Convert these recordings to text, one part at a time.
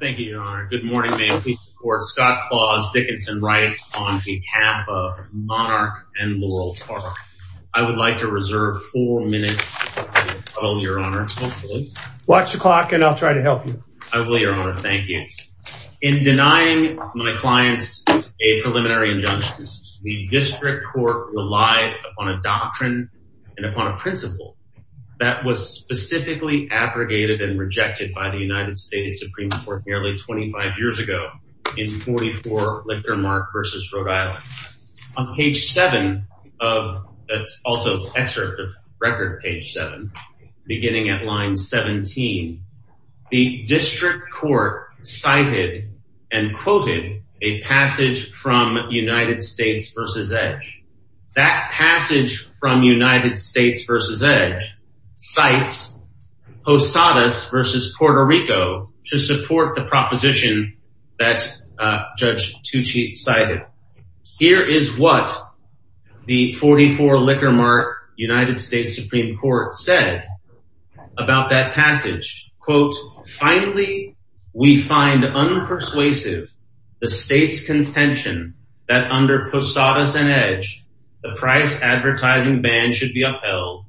Thank you, Your Honor. Good morning, ma'am. Please support Scott Clause Dickinson Wright on behalf of Monarch and Laurel Park. I would like to reserve four minutes of the call, Your Honor, hopefully. Watch the clock and I'll try to help you. I will, Your Honor. Thank you. In denying my clients a preliminary injunction, the district court relied upon a doctrine and upon a principle that was specifically abrogated and rejected by the United States Supreme Court nearly 25 years ago in 44 Lictor Mark v. Rhode Island. On page 7 of, that's also excerpt of record page 7, beginning at line 17, the district court cited and quoted a passage from United States v. Edge, cites Posadas v. Puerto Rico to support the proposition that Judge Tucci cited. Here is what the 44 Lictor Mark United States Supreme Court said about that passage, quote, finally, we find unpersuasive the state's contention that under Posadas and Edge, the price advertising ban should be upheld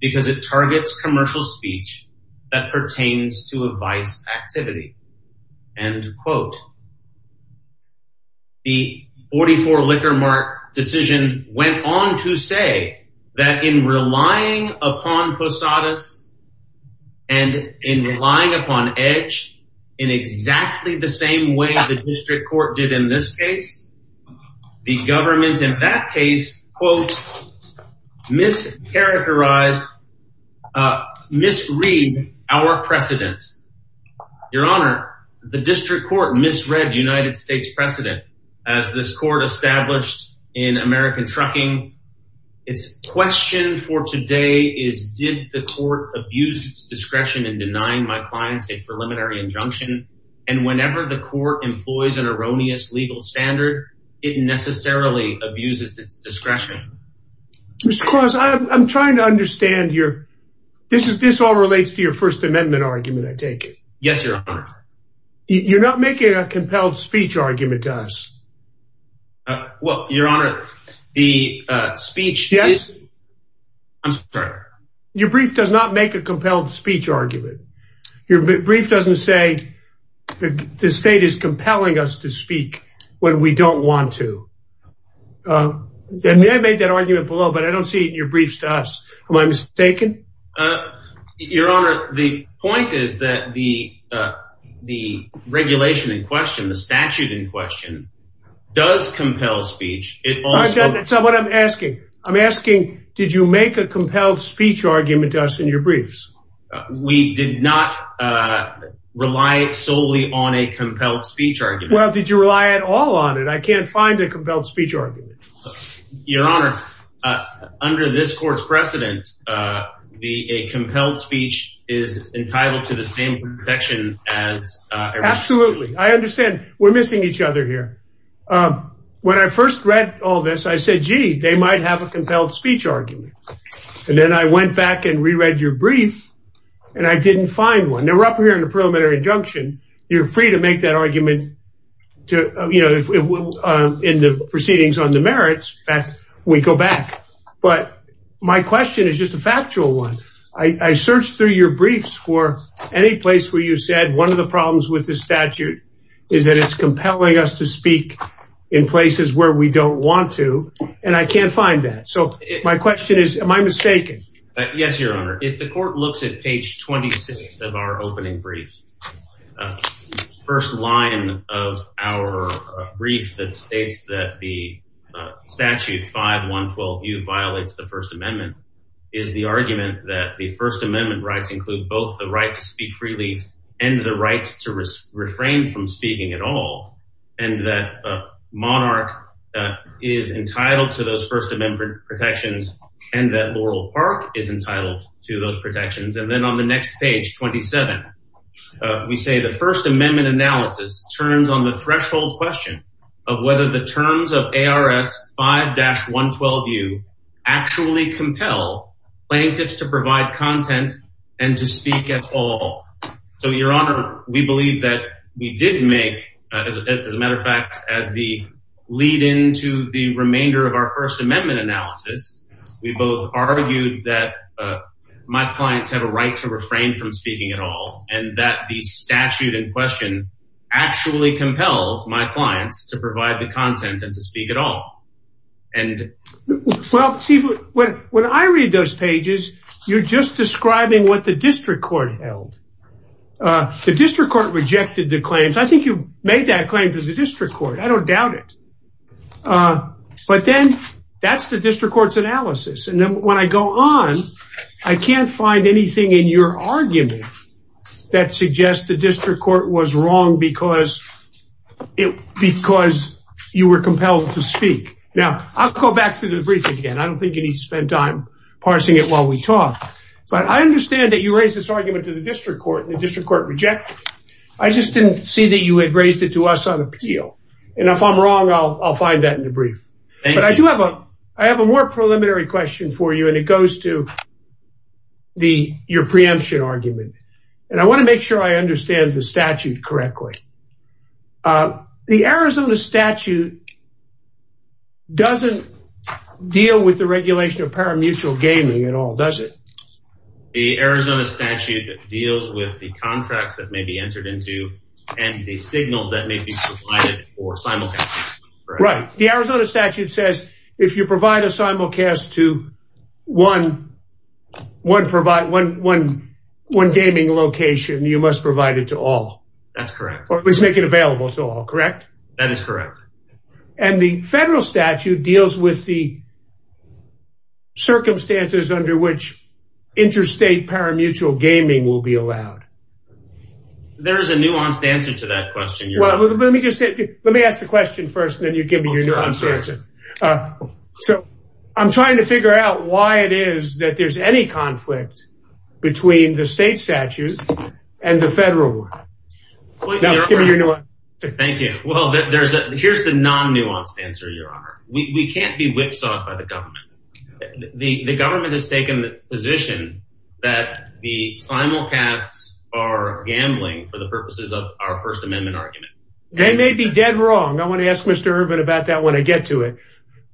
because it targets commercial speech that pertains to advice activity, end quote. The 44 Lictor Mark decision went on to say that in relying upon Posadas and in relying upon Edge in exactly the same way the district court did in this case, the government in that case, quote, mischaracterized, misread our precedent. Your honor, the district court misread United States precedent as this court established in American Trucking. Its question for today is did the court abuse its discretion in denying my court employs an erroneous legal standard? It necessarily abuses its discretion. Mr. Cross, I'm trying to understand your, this all relates to your First Amendment argument, I take it. Yes, your honor. You're not making a compelled speech argument to us. Well, your honor, the speech, I'm sorry. Your brief does not make a compelled speech argument. Your brief doesn't say the state is compelling us to speak when we don't want to. I made that argument below, but I don't see it in your briefs to us. Am I mistaken? Your honor, the point is that the regulation in question, the statute in question, does compel speech. That's not what I'm asking. I'm asking, did you make a compelled speech argument to us in your briefs? We did not rely solely on a compelled speech argument. Well, did you rely at all on it? I can't find a compelled speech argument. Your honor, under this court's precedent, a compelled speech is entitled to the same protection as- Absolutely. I understand we're missing each other here. When I first read all this, I said, gee, they might have a compelled speech argument. Then I went back and re-read your brief, and I didn't find one. Now, we're up here in the preliminary injunction. You're free to make that argument in the proceedings on the merits. We go back. My question is just a factual one. I searched through your briefs for any place where you said one of the problems with the statute is that it's compelling us to speak in places where we don't want to, and I can't find that. My question is, am I mistaken? Yes, your honor. If the court looks at page 26 of our opening brief, first line of our brief that states that the statute 5-112U violates the First Amendment is the argument that the First Amendment rights include both the right to speak freely and the right to refrain from speaking at all, and that a monarch is entitled to those First Amendment protections and that Laurel Park is entitled to those protections. Then on the next page, 27, we say the First Amendment analysis turns on the threshold question of whether the terms of ARS 5-112U actually compel plaintiffs to provide content and to speak at all. Your honor, we believe that we did make, as a matter of fact, as the lead-in to the remainder of our First Amendment analysis, we both argued that my clients have a right to refrain from speaking at all and that the statute in question actually compels my clients to provide the content and to speak at all. Well, see, when I read those pages, you're just describing what the district court rejected the claims. I think you made that claim to the district court. I don't doubt it, but then that's the district court's analysis, and then when I go on, I can't find anything in your argument that suggests the district court was wrong because you were compelled to speak. Now, I'll go back through the brief again. I don't think you need to spend time parsing it while we talk, but I understand that you raised this argument to the district court, and the district court rejected it. I just didn't see that you had raised it to us on appeal, and if I'm wrong, I'll find that in the brief, but I do have a more preliminary question for you, and it goes to your preemption argument, and I want to make sure I understand the statute correctly. The Arizona statute doesn't deal with the regulation of paramutual gaming at all, does it? The Arizona statute deals with the contracts that may be entered into and the signals that may be provided for simulcast. Right. The Arizona statute says if you provide a simulcast to one gaming location, you must provide it to all. That's correct. Or at least make it available to all, correct? That is correct. And the federal interstate paramutual gaming will be allowed. There is a nuanced answer to that question. Let me ask the question first, and then you give me your answer. So I'm trying to figure out why it is that there's any conflict between the state statutes and the federal one. Thank you. Well, here's the non-nuanced answer, Your Honor. We can't be whipsawed by the government. The government has taken the position that the simulcasts are gambling for the purposes of our First Amendment argument. They may be dead wrong. I want to ask Mr. Ervin about that when I get to it.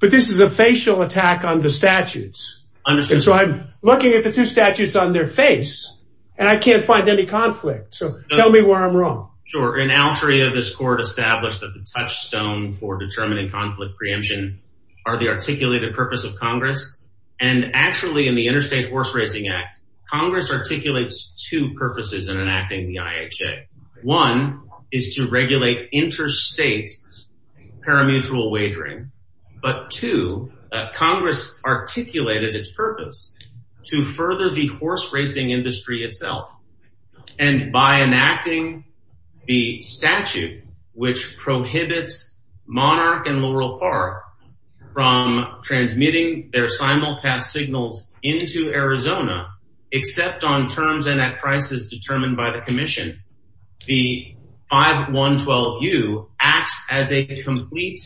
But this is a facial attack on the statutes. And so I'm looking at the two statutes on their face, and I can't find any conflict. So tell me where I'm wrong. Sure. An outry of this court established that the touchstone for determining conflict preemption are the articulated purpose of Congress. And actually in the Interstate Horse Racing Act, Congress articulates two purposes in enacting the IHA. One is to regulate interstate paramutual wagering. But two, Congress articulated its purpose to further the horse racing industry itself. And by enacting the statute, which their simulcast signals into Arizona, except on terms and at prices determined by the commission, the 5112U acts as a complete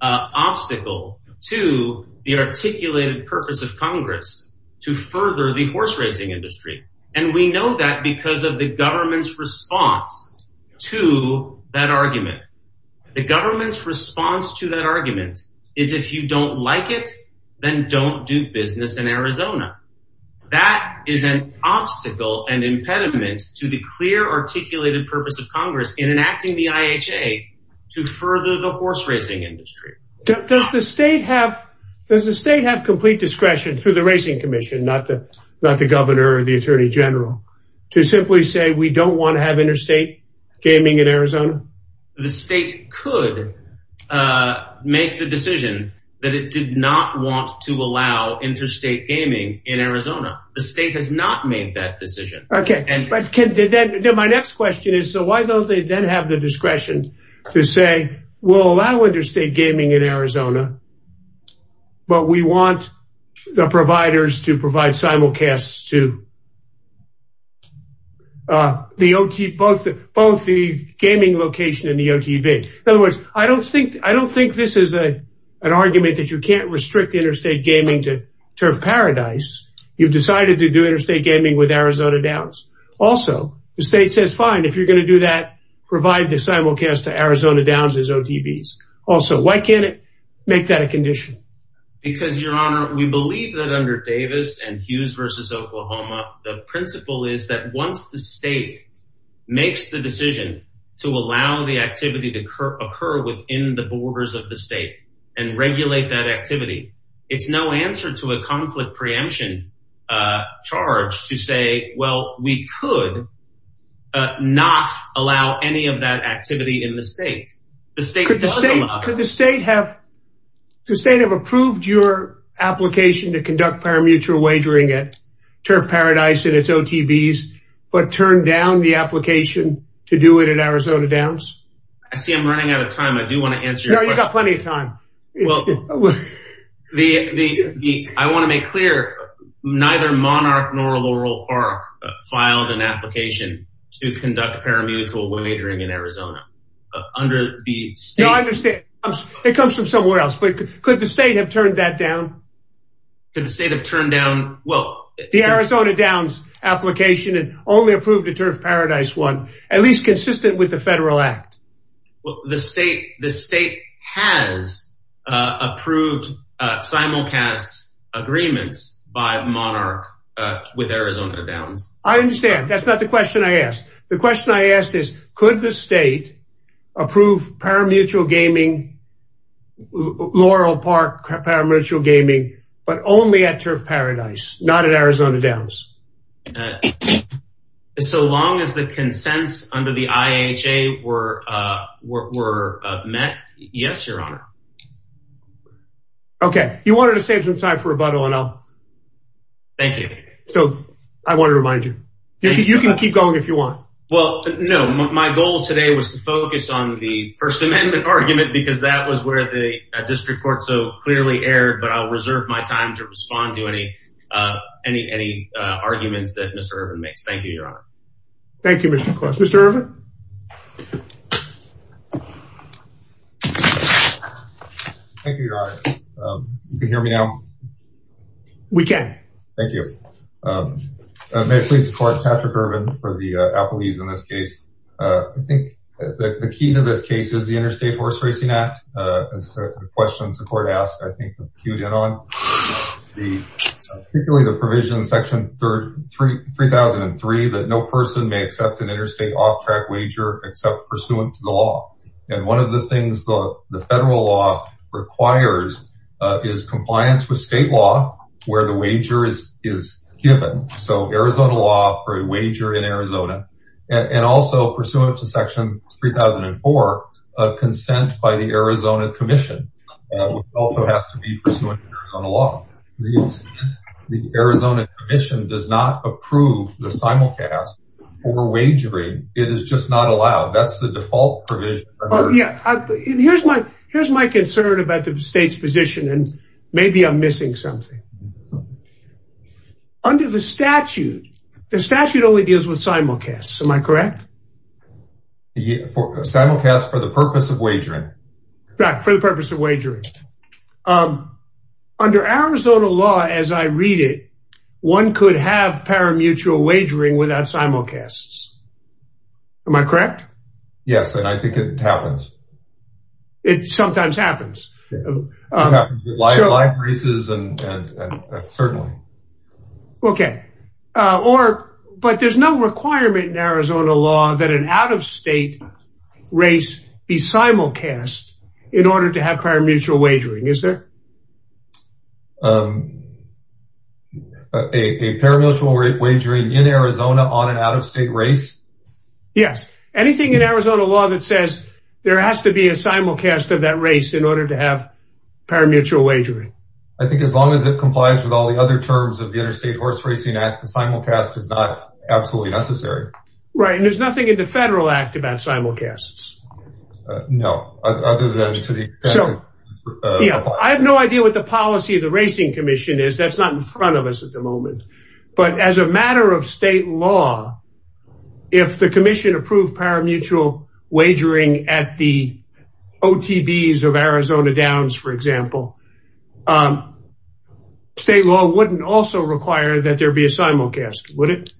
obstacle to the articulated purpose of Congress to further the horse racing industry. And we know that because of the government's response to that argument. The government's response to that argument is if you don't like it, then don't do business in Arizona. That is an obstacle and impediment to the clear articulated purpose of Congress in enacting the IHA to further the horse racing industry. Does the state have complete discretion through the Racing Commission, not the Governor or the Attorney General, to simply say we don't want to have interstate gaming in Arizona? The state could make the decision that it did not want to allow interstate gaming in Arizona. The state has not made that decision. Okay, and my next question is, so why don't they then have the discretion to say, we'll allow interstate gaming in Arizona, but we want the providers to provide simulcasts too. Both the gaming location and the OTB. In other words, I don't think this is an argument that you can't restrict interstate gaming to Turf Paradise. You've decided to do interstate gaming with Arizona Downs. Also, the state says fine, if you're going to do that, provide the simulcasts to Arizona Downs as OTBs. Also, why can't it make that a condition? Because, Your Honor, we believe that under Davis and Hughes v. Oklahoma, the principle is that once the state makes the decision to allow the activity to occur within the borders of the state and regulate that activity, it's no answer to a conflict preemption charge to say, well, we could not allow any of that activity in the state. Could the state have approved your application to conduct paramuture wagering at Turf Paradise and its OTBs, but turned down the application to do it at Arizona Downs? I see I'm running out of time. I do want to answer. You've got plenty of time. Well, I want to make clear, neither Monarch nor Laurel Park filed an application to conduct paramuture wagering in Arizona. No, I understand. It comes from somewhere else, but could the state have turned that down? Could the state have turned down, well, the Arizona Downs application and only approved the Turf Paradise one, at least consistent with federal act? Well, the state has approved simulcast agreements by Monarch with Arizona Downs. I understand. That's not the question I asked. The question I asked is, could the state approve paramuture gaming, Laurel Park paramuture gaming, but only at Turf Paradise, not at Arizona Downs? So long as the consents under the IHA were met, yes, your honor. Okay. You wanted to save some time for rebuttal and I'll... Thank you. So I want to remind you, you can keep going if you want. Well, no, my goal today was to focus on the First Amendment argument because that was where the any arguments that Mr. Irvin makes. Thank you, your honor. Thank you, Mr. Clark. Mr. Irvin? Thank you, your honor. You can hear me now? We can. Thank you. May I please support Patrick Irvin for the apologies in this case? I think the key to this case is the Interstate Horse Racing Act. It's a question the court asked, I think, queued in on. Particularly the provision, section 3003, that no person may accept an interstate off-track wager except pursuant to the law. And one of the things the federal law requires is compliance with state law where the wager is given. So Arizona law for a wager in Arizona law. The Arizona Commission does not approve the simulcast for wagering. It is just not allowed. That's the default provision. Oh, yeah. Here's my concern about the state's position and maybe I'm missing something. Under the statute, the statute only deals with simulcasts. Am I correct? Simulcasts for the purpose of wagering. Right, for the purpose of wagering. Under Arizona law, as I read it, one could have paramutual wagering without simulcasts. Am I correct? Yes, and I think it happens. It sometimes happens. It happens with live races and certainly. Okay, but there's no requirement in Arizona law that an out-of-state race be simulcast in order to have paramutual wagering, is there? A paramutual wagering in Arizona on an out-of-state race? Yes, anything in Arizona law that says there has to be a simulcast of that race in order to have other terms of the Interstate Horse Racing Act, the simulcast is not absolutely necessary. Right, and there's nothing in the Federal Act about simulcasts. No, other than to the extent. I have no idea what the policy of the Racing Commission is. That's not in front of us at the moment, but as a matter of state law, if the commission approved paramutual wagering at the OTBs of Arizona Downs, for example, state law wouldn't also require that there be a simulcast, would it?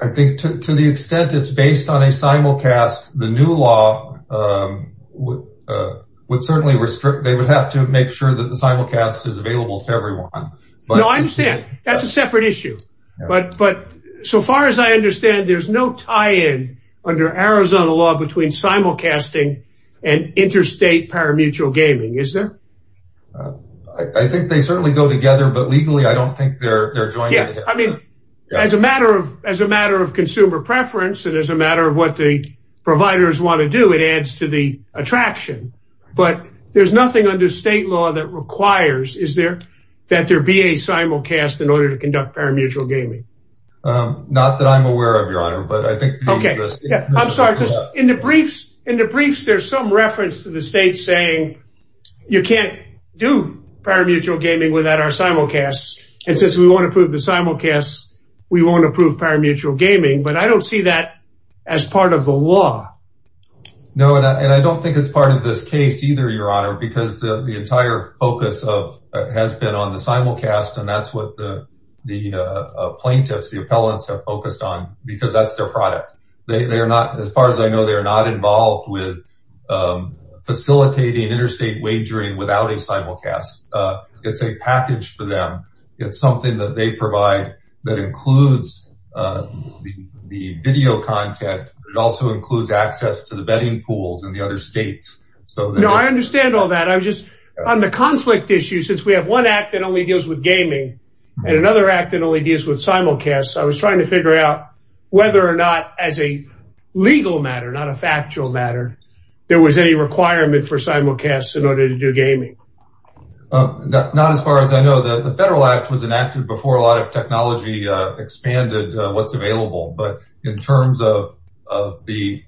I think to the extent it's based on a simulcast, the new law would certainly restrict. They would have to make sure that the simulcast is available to everyone. No, I understand. That's a separate issue, but so far as I understand, there's no tie-in under Arizona law between simulcasting and interstate paramutual gaming, is there? I think they certainly go together, but legally, I don't think they're joined together. Yeah, I mean, as a matter of consumer preference and as a matter of what the providers want to do, it adds to the attraction, but there's nothing under state law that requires that there be a simulcast in order to conduct paramutual gaming. Not that I'm aware of, Your Honor, but I think... Okay, I'm sorry. In the briefs, there's some reference to the state saying you can't do paramutual gaming without our simulcasts, and since we won't approve the simulcasts, we won't approve paramutual gaming, but I don't see that as part of the law. No, and I don't think it's part of this case either, Your Honor, because the entire focus has been on the simulcast, and that's what the plaintiffs, the appellants, have focused on because that's their product. As far as I know, they're not involved with facilitating interstate wagering without a simulcast. It's a package for them. It's something that they provide that includes the video content. It also includes access to betting pools in the other states. No, I understand all that. I'm just... On the conflict issue, since we have one act that only deals with gaming and another act that only deals with simulcasts, I was trying to figure out whether or not, as a legal matter, not a factual matter, there was any requirement for simulcasts in order to do gaming. Not as far as I know. The Federal Act was enacted before a lot of technology expanded what's available, but in terms of the...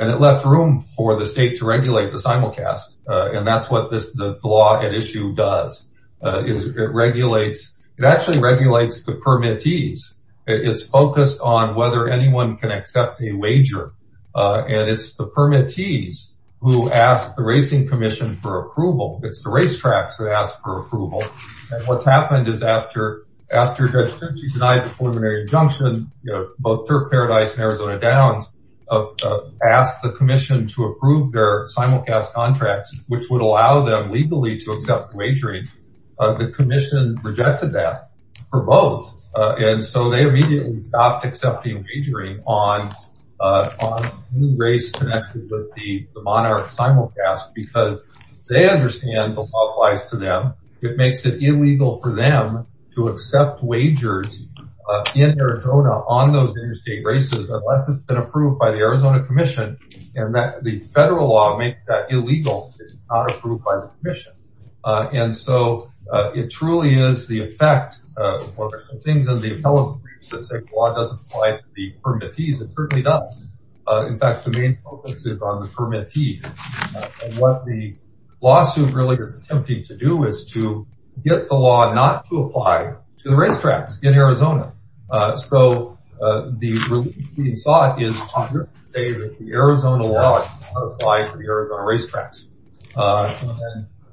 And it left room for the state to regulate the simulcast, and that's what the law at issue does, is it regulates... It actually regulates the permittees. It's focused on whether anyone can accept a wager, and it's the permittees who ask the Racing Commission for approval. It's the racetracks that ask for approval. And what's happened is after Judge Circi denied the preliminary injunction, both Third Paradise and Arizona Downs asked the commission to approve their simulcast contracts, which would allow them legally to accept wagering. The commission rejected that for both. And so they immediately stopped accepting wagering on race connected with the monarch simulcast, because they understand the law applies to them. It makes it illegal for them to accept wagers in Arizona on those interstate races, unless it's been approved by the Arizona Commission, and that the federal law makes that illegal if it's not approved by the commission. And so it truly is the effect... Well, there's some things in the appellate briefs that say the law doesn't apply to the permittees. It certainly doesn't. In fact, the main focus is on the racetracks in Arizona. So the thought is to say that the Arizona law does not apply for the Arizona racetracks.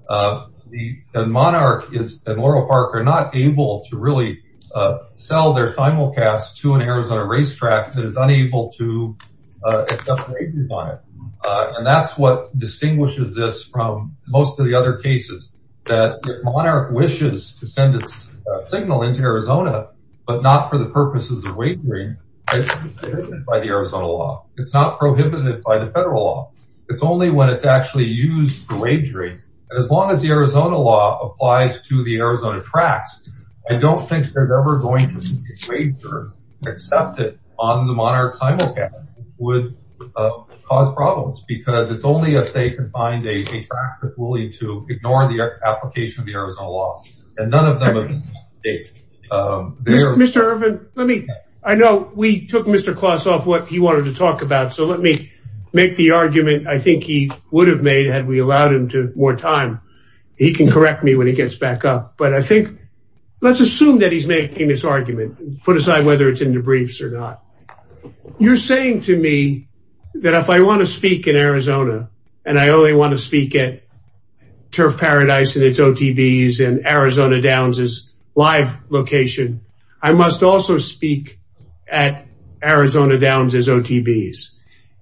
The monarch and Laurel Park are not able to really sell their simulcast to an Arizona racetrack that is unable to accept wages on it. And that's what distinguishes this from most of the other cases, that if monarch wishes to send its signal into Arizona, but not for the purposes of wagering, it isn't by the Arizona law. It's not prohibited by the federal law. It's only when it's actually used for wagering. And as long as the Arizona law applies to the Arizona tracks, I don't think they're ever going to accept it on the monarch simulcast, would cause problems. Because it's only if they can find a track that's willing to ignore the application of the Arizona law. And none of them... Mr. Irvin, let me... I know we took Mr. Kloss off what he wanted to talk about. So let me make the argument I think he would have made had we allowed him more time. He can correct me when he gets back up. But I think, let's assume that he's making this argument, put aside whether it's in the briefs or not. You're saying to me that if I want to speak in Arizona, and I only want to speak at Turf Paradise and its OTBs and Arizona Downs' live location, I must also speak at Arizona Downs' OTBs.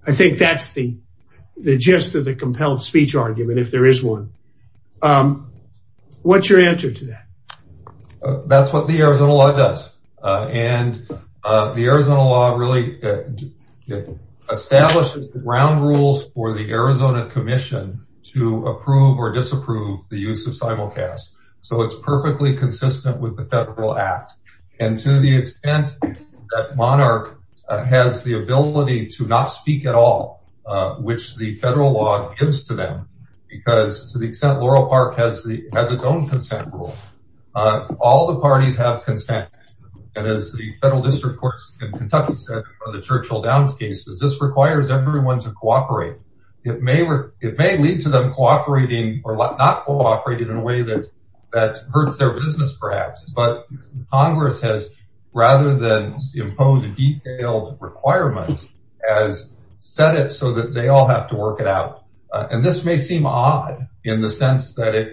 I think that's the gist of the compelled speech argument, if there is one. What's your answer to that? That's what the Arizona law does. And the Arizona law really establishes the ground rules for the Arizona Commission to approve or disapprove the use of simulcast. So it's perfectly consistent with the federal act. And to the extent that monarch has the ability to not speak at all, which the federal law gives to them, because to the extent Laurel Park has its own consent rule, all the parties have consent. And as the federal district courts in Kentucky said for the Churchill Downs cases, this requires everyone to cooperate. It may lead to them not cooperating in a way that hurts their business, perhaps. But Congress has, rather than impose detailed requirements, has set it so that they all have to work it out. And this may seem odd in the sense that it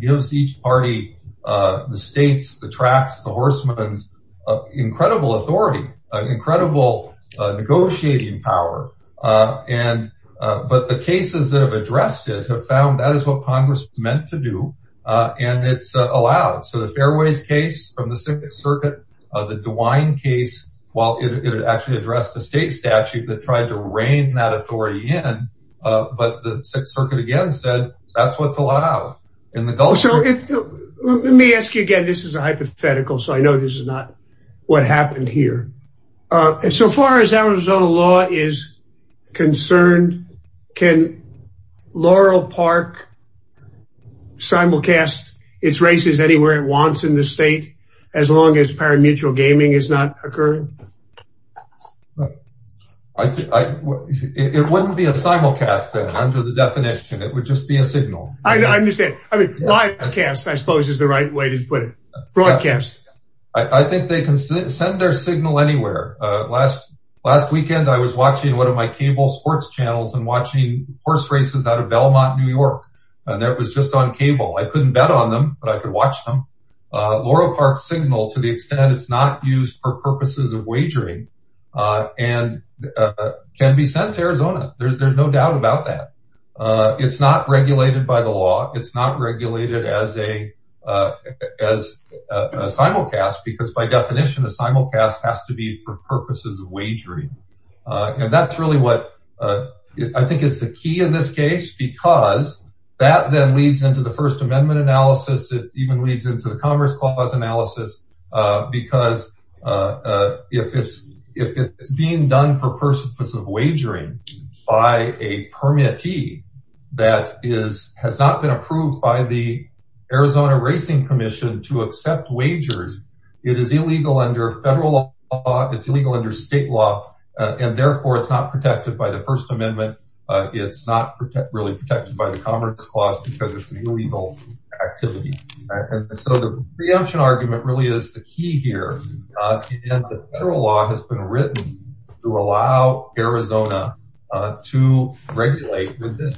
gives each party, the states, the tracks, the horsemen's incredible authority, incredible negotiating power. But the cases that have addressed it have found that is what Congress meant to do. And it's allowed. So the Fairways case from the Sixth Circuit, the DeWine case, while it actually addressed the state statute that tried to rein that authority in, but the Sixth Circuit again said, that's what's allowed in the Gulf. Let me ask you again, this is a hypothetical, so I know this is not what happened here. So far as Arizona law is concerned, can Laurel Park simulcast its races anywhere it wants in the state, as long as parimutuel gaming is not occurring? It wouldn't be a simulcast, under the definition, it would just be a signal. I understand. I mean, livecast, I suppose is the right way to put it. Broadcast. I think they can send their signal anywhere. Last weekend, I was watching one of my cable sports channels and watching horse races out of Belmont, New York. And that was just on cable. I couldn't bet on them, but I could watch them. Laurel Park signal to the extent it's not used for purposes of wagering and can be sent to Arizona. There's no doubt about that. It's not regulated by the law. It's not regulated as a simulcast because by definition, a simulcast has to be for purposes of wagering. And that's really what I think is the key in this case, because that then leads into the first amendment analysis. It even leads into the commerce clause analysis because if it's being done for purposes of wagering by a permittee that has not been approved by the Arizona racing commission to accept wagers, it is illegal under federal law. It's illegal under state law. And therefore it's not protected by the first amendment. It's not really protected by the commerce clause because it's an illegal activity. So the preemption argument really is the key here. And the federal law has been written to allow Arizona to regulate with this.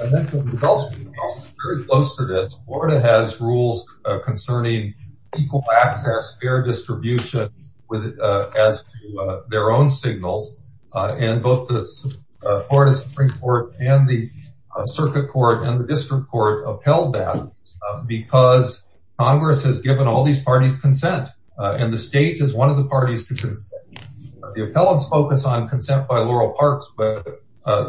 And then the results are very close to this. Florida has rules concerning equal access, fair distribution, as to their own signals. And both the Florida Supreme Court and the circuit court and the district court upheld that because Congress has given all these parties consent. And the state is one of the parties to consent. The appellants focus on consent by Laurel Parks, but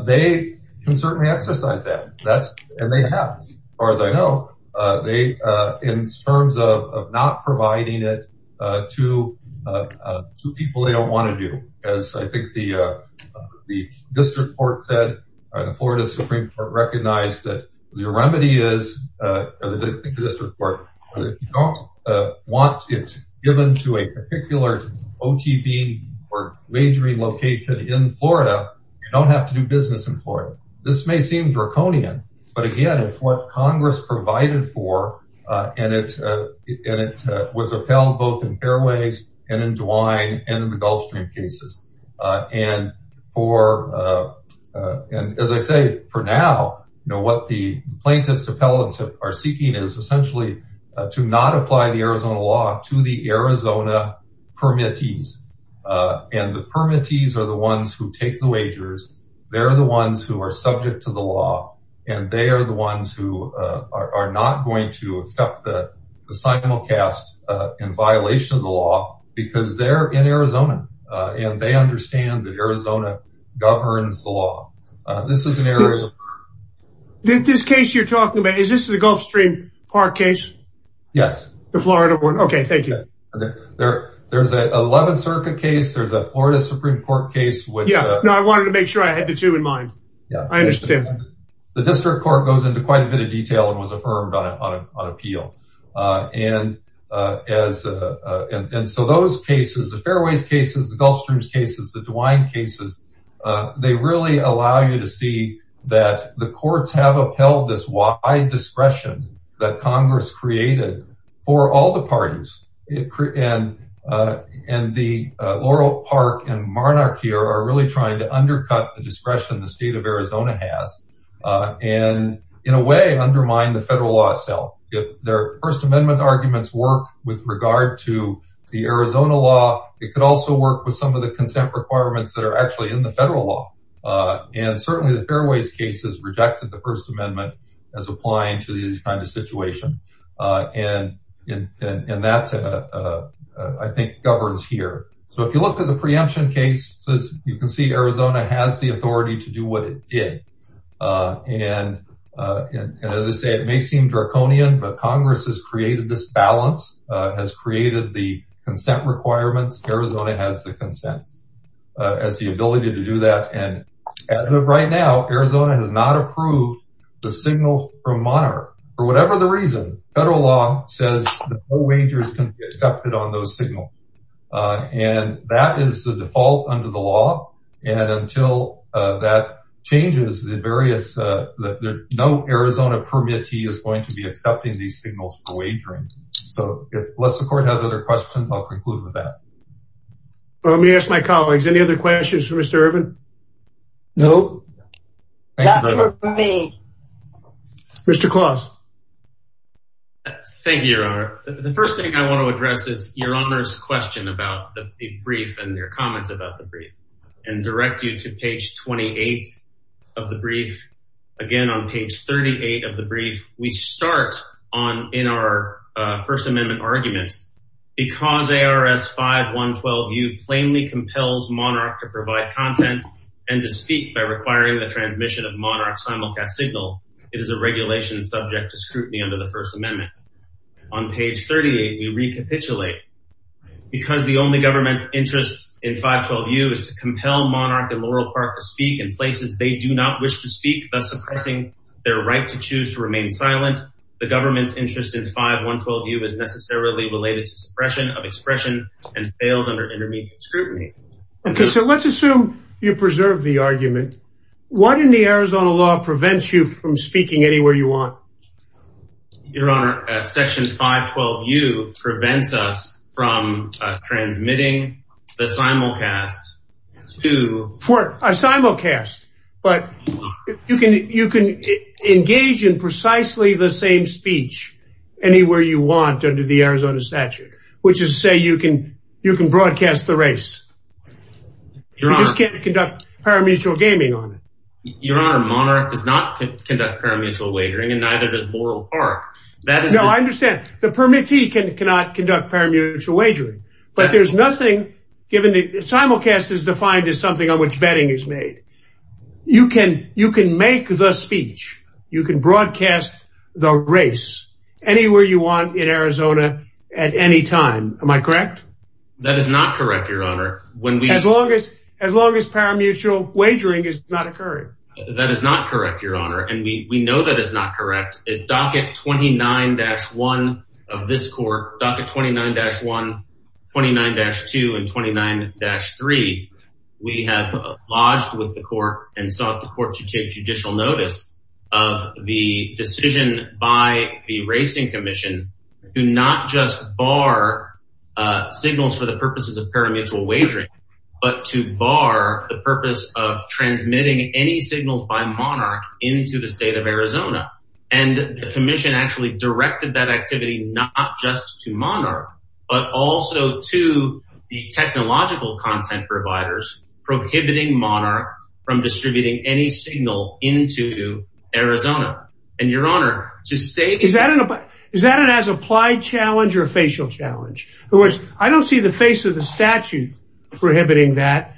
they can certainly exercise that. And they have, as far as I know, in terms of not providing it to people they don't want to do. As I think the district court said, the Florida Supreme Court recognized that the remedy is, you don't want it given to a particular OTV or wagering location in Florida. You don't have to do business in Florida. This may seem draconian, but again, it's what Congress provided for. And it was upheld both in Fairways and in DeWine and in the Gulf Stream cases. And as I say, for now, what the plaintiff's appellants are seeking is essentially to not apply the Arizona law to the Arizona permittees. And the permittees are the ones who take the wagers. They're the ones who are subject to the law. And they are the ones who are not going to accept the simulcast in violation of the law, because they're in Arizona. And they understand that Arizona governs the law. This is an area... This case you're talking about, is this the Gulf Stream Park case? Yes. The Florida one? Okay, thank you. There's an 11th Circuit case. There's a Florida Supreme Court case, which... Yeah, no, I wanted to make sure I had the two in mind. I understand that. The District Court goes into quite a bit of detail and was affirmed on appeal. And so those cases, the Fairways cases, the Gulf Stream cases, the DeWine cases, they really allow you to see that the courts have upheld this wide discretion that Congress created for all the parties. And the Laurel Park and Marnock here are really trying to undercut the discretion the state of Arizona has, and in a way undermine the federal law itself. Their First Amendment arguments work with regard to the Arizona law. It could also work with some of the consent requirements that are actually in the federal law. And certainly the Fairways case has rejected the First Amendment as applying to these kinds of situations. And that, I think, governs here. So if you look at the preemption case, you can see Arizona has the authority to do what it did. And as I say, it may seem draconian, but Congress has created this balance, has created the consent requirements. Arizona has the consent as the ability to do that. And as of right now, Arizona has not approved the signals from Monarch. For whatever the reason, federal law says that no wagers can be accepted on those signals. And that is the default under the law. And until that changes the various, no Arizona permittee is going to be accepting these signals for wagering. So unless the court has other questions, I'll conclude with that. Let me ask my colleagues, any other questions for Mr. Irvin? No. That's it for me. Mr. Claus. Thank you, Your Honor. The first thing I want to address is Your Honor's question about the brief and your comments about the brief. And direct you to page 28 of the brief. Again, page 38 of the brief, we start on in our First Amendment argument. Because ARS 5.112U plainly compels Monarch to provide content and to speak by requiring the transmission of Monarch's simulcast signal, it is a regulation subject to scrutiny under the First Amendment. On page 38, we recapitulate. Because the only government interest in 5.12U is to compel Monarch and Laurel Park to do not wish to speak, thus suppressing their right to choose to remain silent. The government's interest in 5.112U is necessarily related to suppression of expression and fails under intermediate scrutiny. Okay, so let's assume you preserve the argument. What in the Arizona law prevents you from speaking anywhere you want? Your Honor, section 5.12U prevents us from but you can engage in precisely the same speech anywhere you want under the Arizona statute, which is say you can broadcast the race. You just can't conduct parimutuel gaming on it. Your Honor, Monarch does not conduct parimutuel wagering and neither does Laurel Park. No, I understand. The permittee cannot conduct parimutuel wagering. But there's nothing given the simulcast is defined as something on which betting is made. You can make the speech. You can broadcast the race anywhere you want in Arizona at any time. Am I correct? That is not correct, Your Honor. As long as parimutuel wagering is not occurring. That is not correct, Your Honor. And we know that is not correct. Docket 29-1 of this court, Docket 29-1, 29-2 and 29-3, we have lodged with the court and sought the court to take judicial notice of the decision by the Racing Commission to not just bar signals for the purposes of parimutuel wagering, but to bar the purpose of transmitting any signals by Monarch into the but also to the technological content providers prohibiting Monarch from distributing any signal into Arizona. And Your Honor, to say... Is that an as-applied challenge or a facial challenge? In other words, I don't see the face of the statute prohibiting that.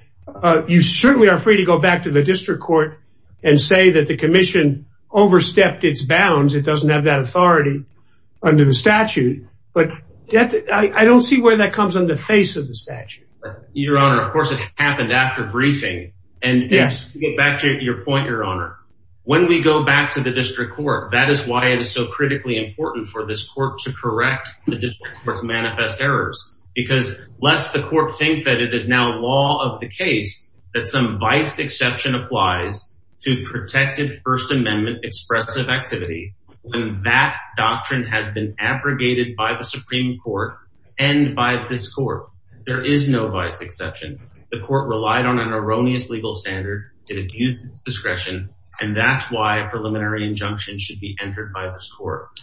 You certainly are free to go back to the district court and say that the commission overstepped its bounds. It doesn't have that authority under the statute. But I don't see where that comes in the face of the statute. Your Honor, of course, it happened after briefing. And to get back to your point, Your Honor, when we go back to the district court, that is why it is so critically important for this court to correct the district court's manifest errors. Because lest the court think that it is now law of the case that some vice exception applies to protected First Amendment expressive activity, when that doctrine has been abrogated by the Supreme Court and by this court, there is no vice exception. The court relied on an erroneous legal standard to abuse its discretion, and that's why a preliminary injunction should be entered by this court.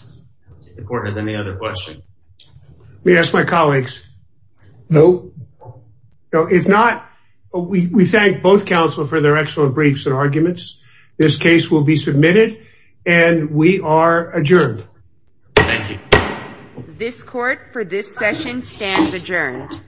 If the court has any other questions. Let me ask my colleagues. No. If not, we thank both counsel for their excellent briefs and arguments. This case will be submitted and we are adjourned. Thank you. This court for this session stands adjourned.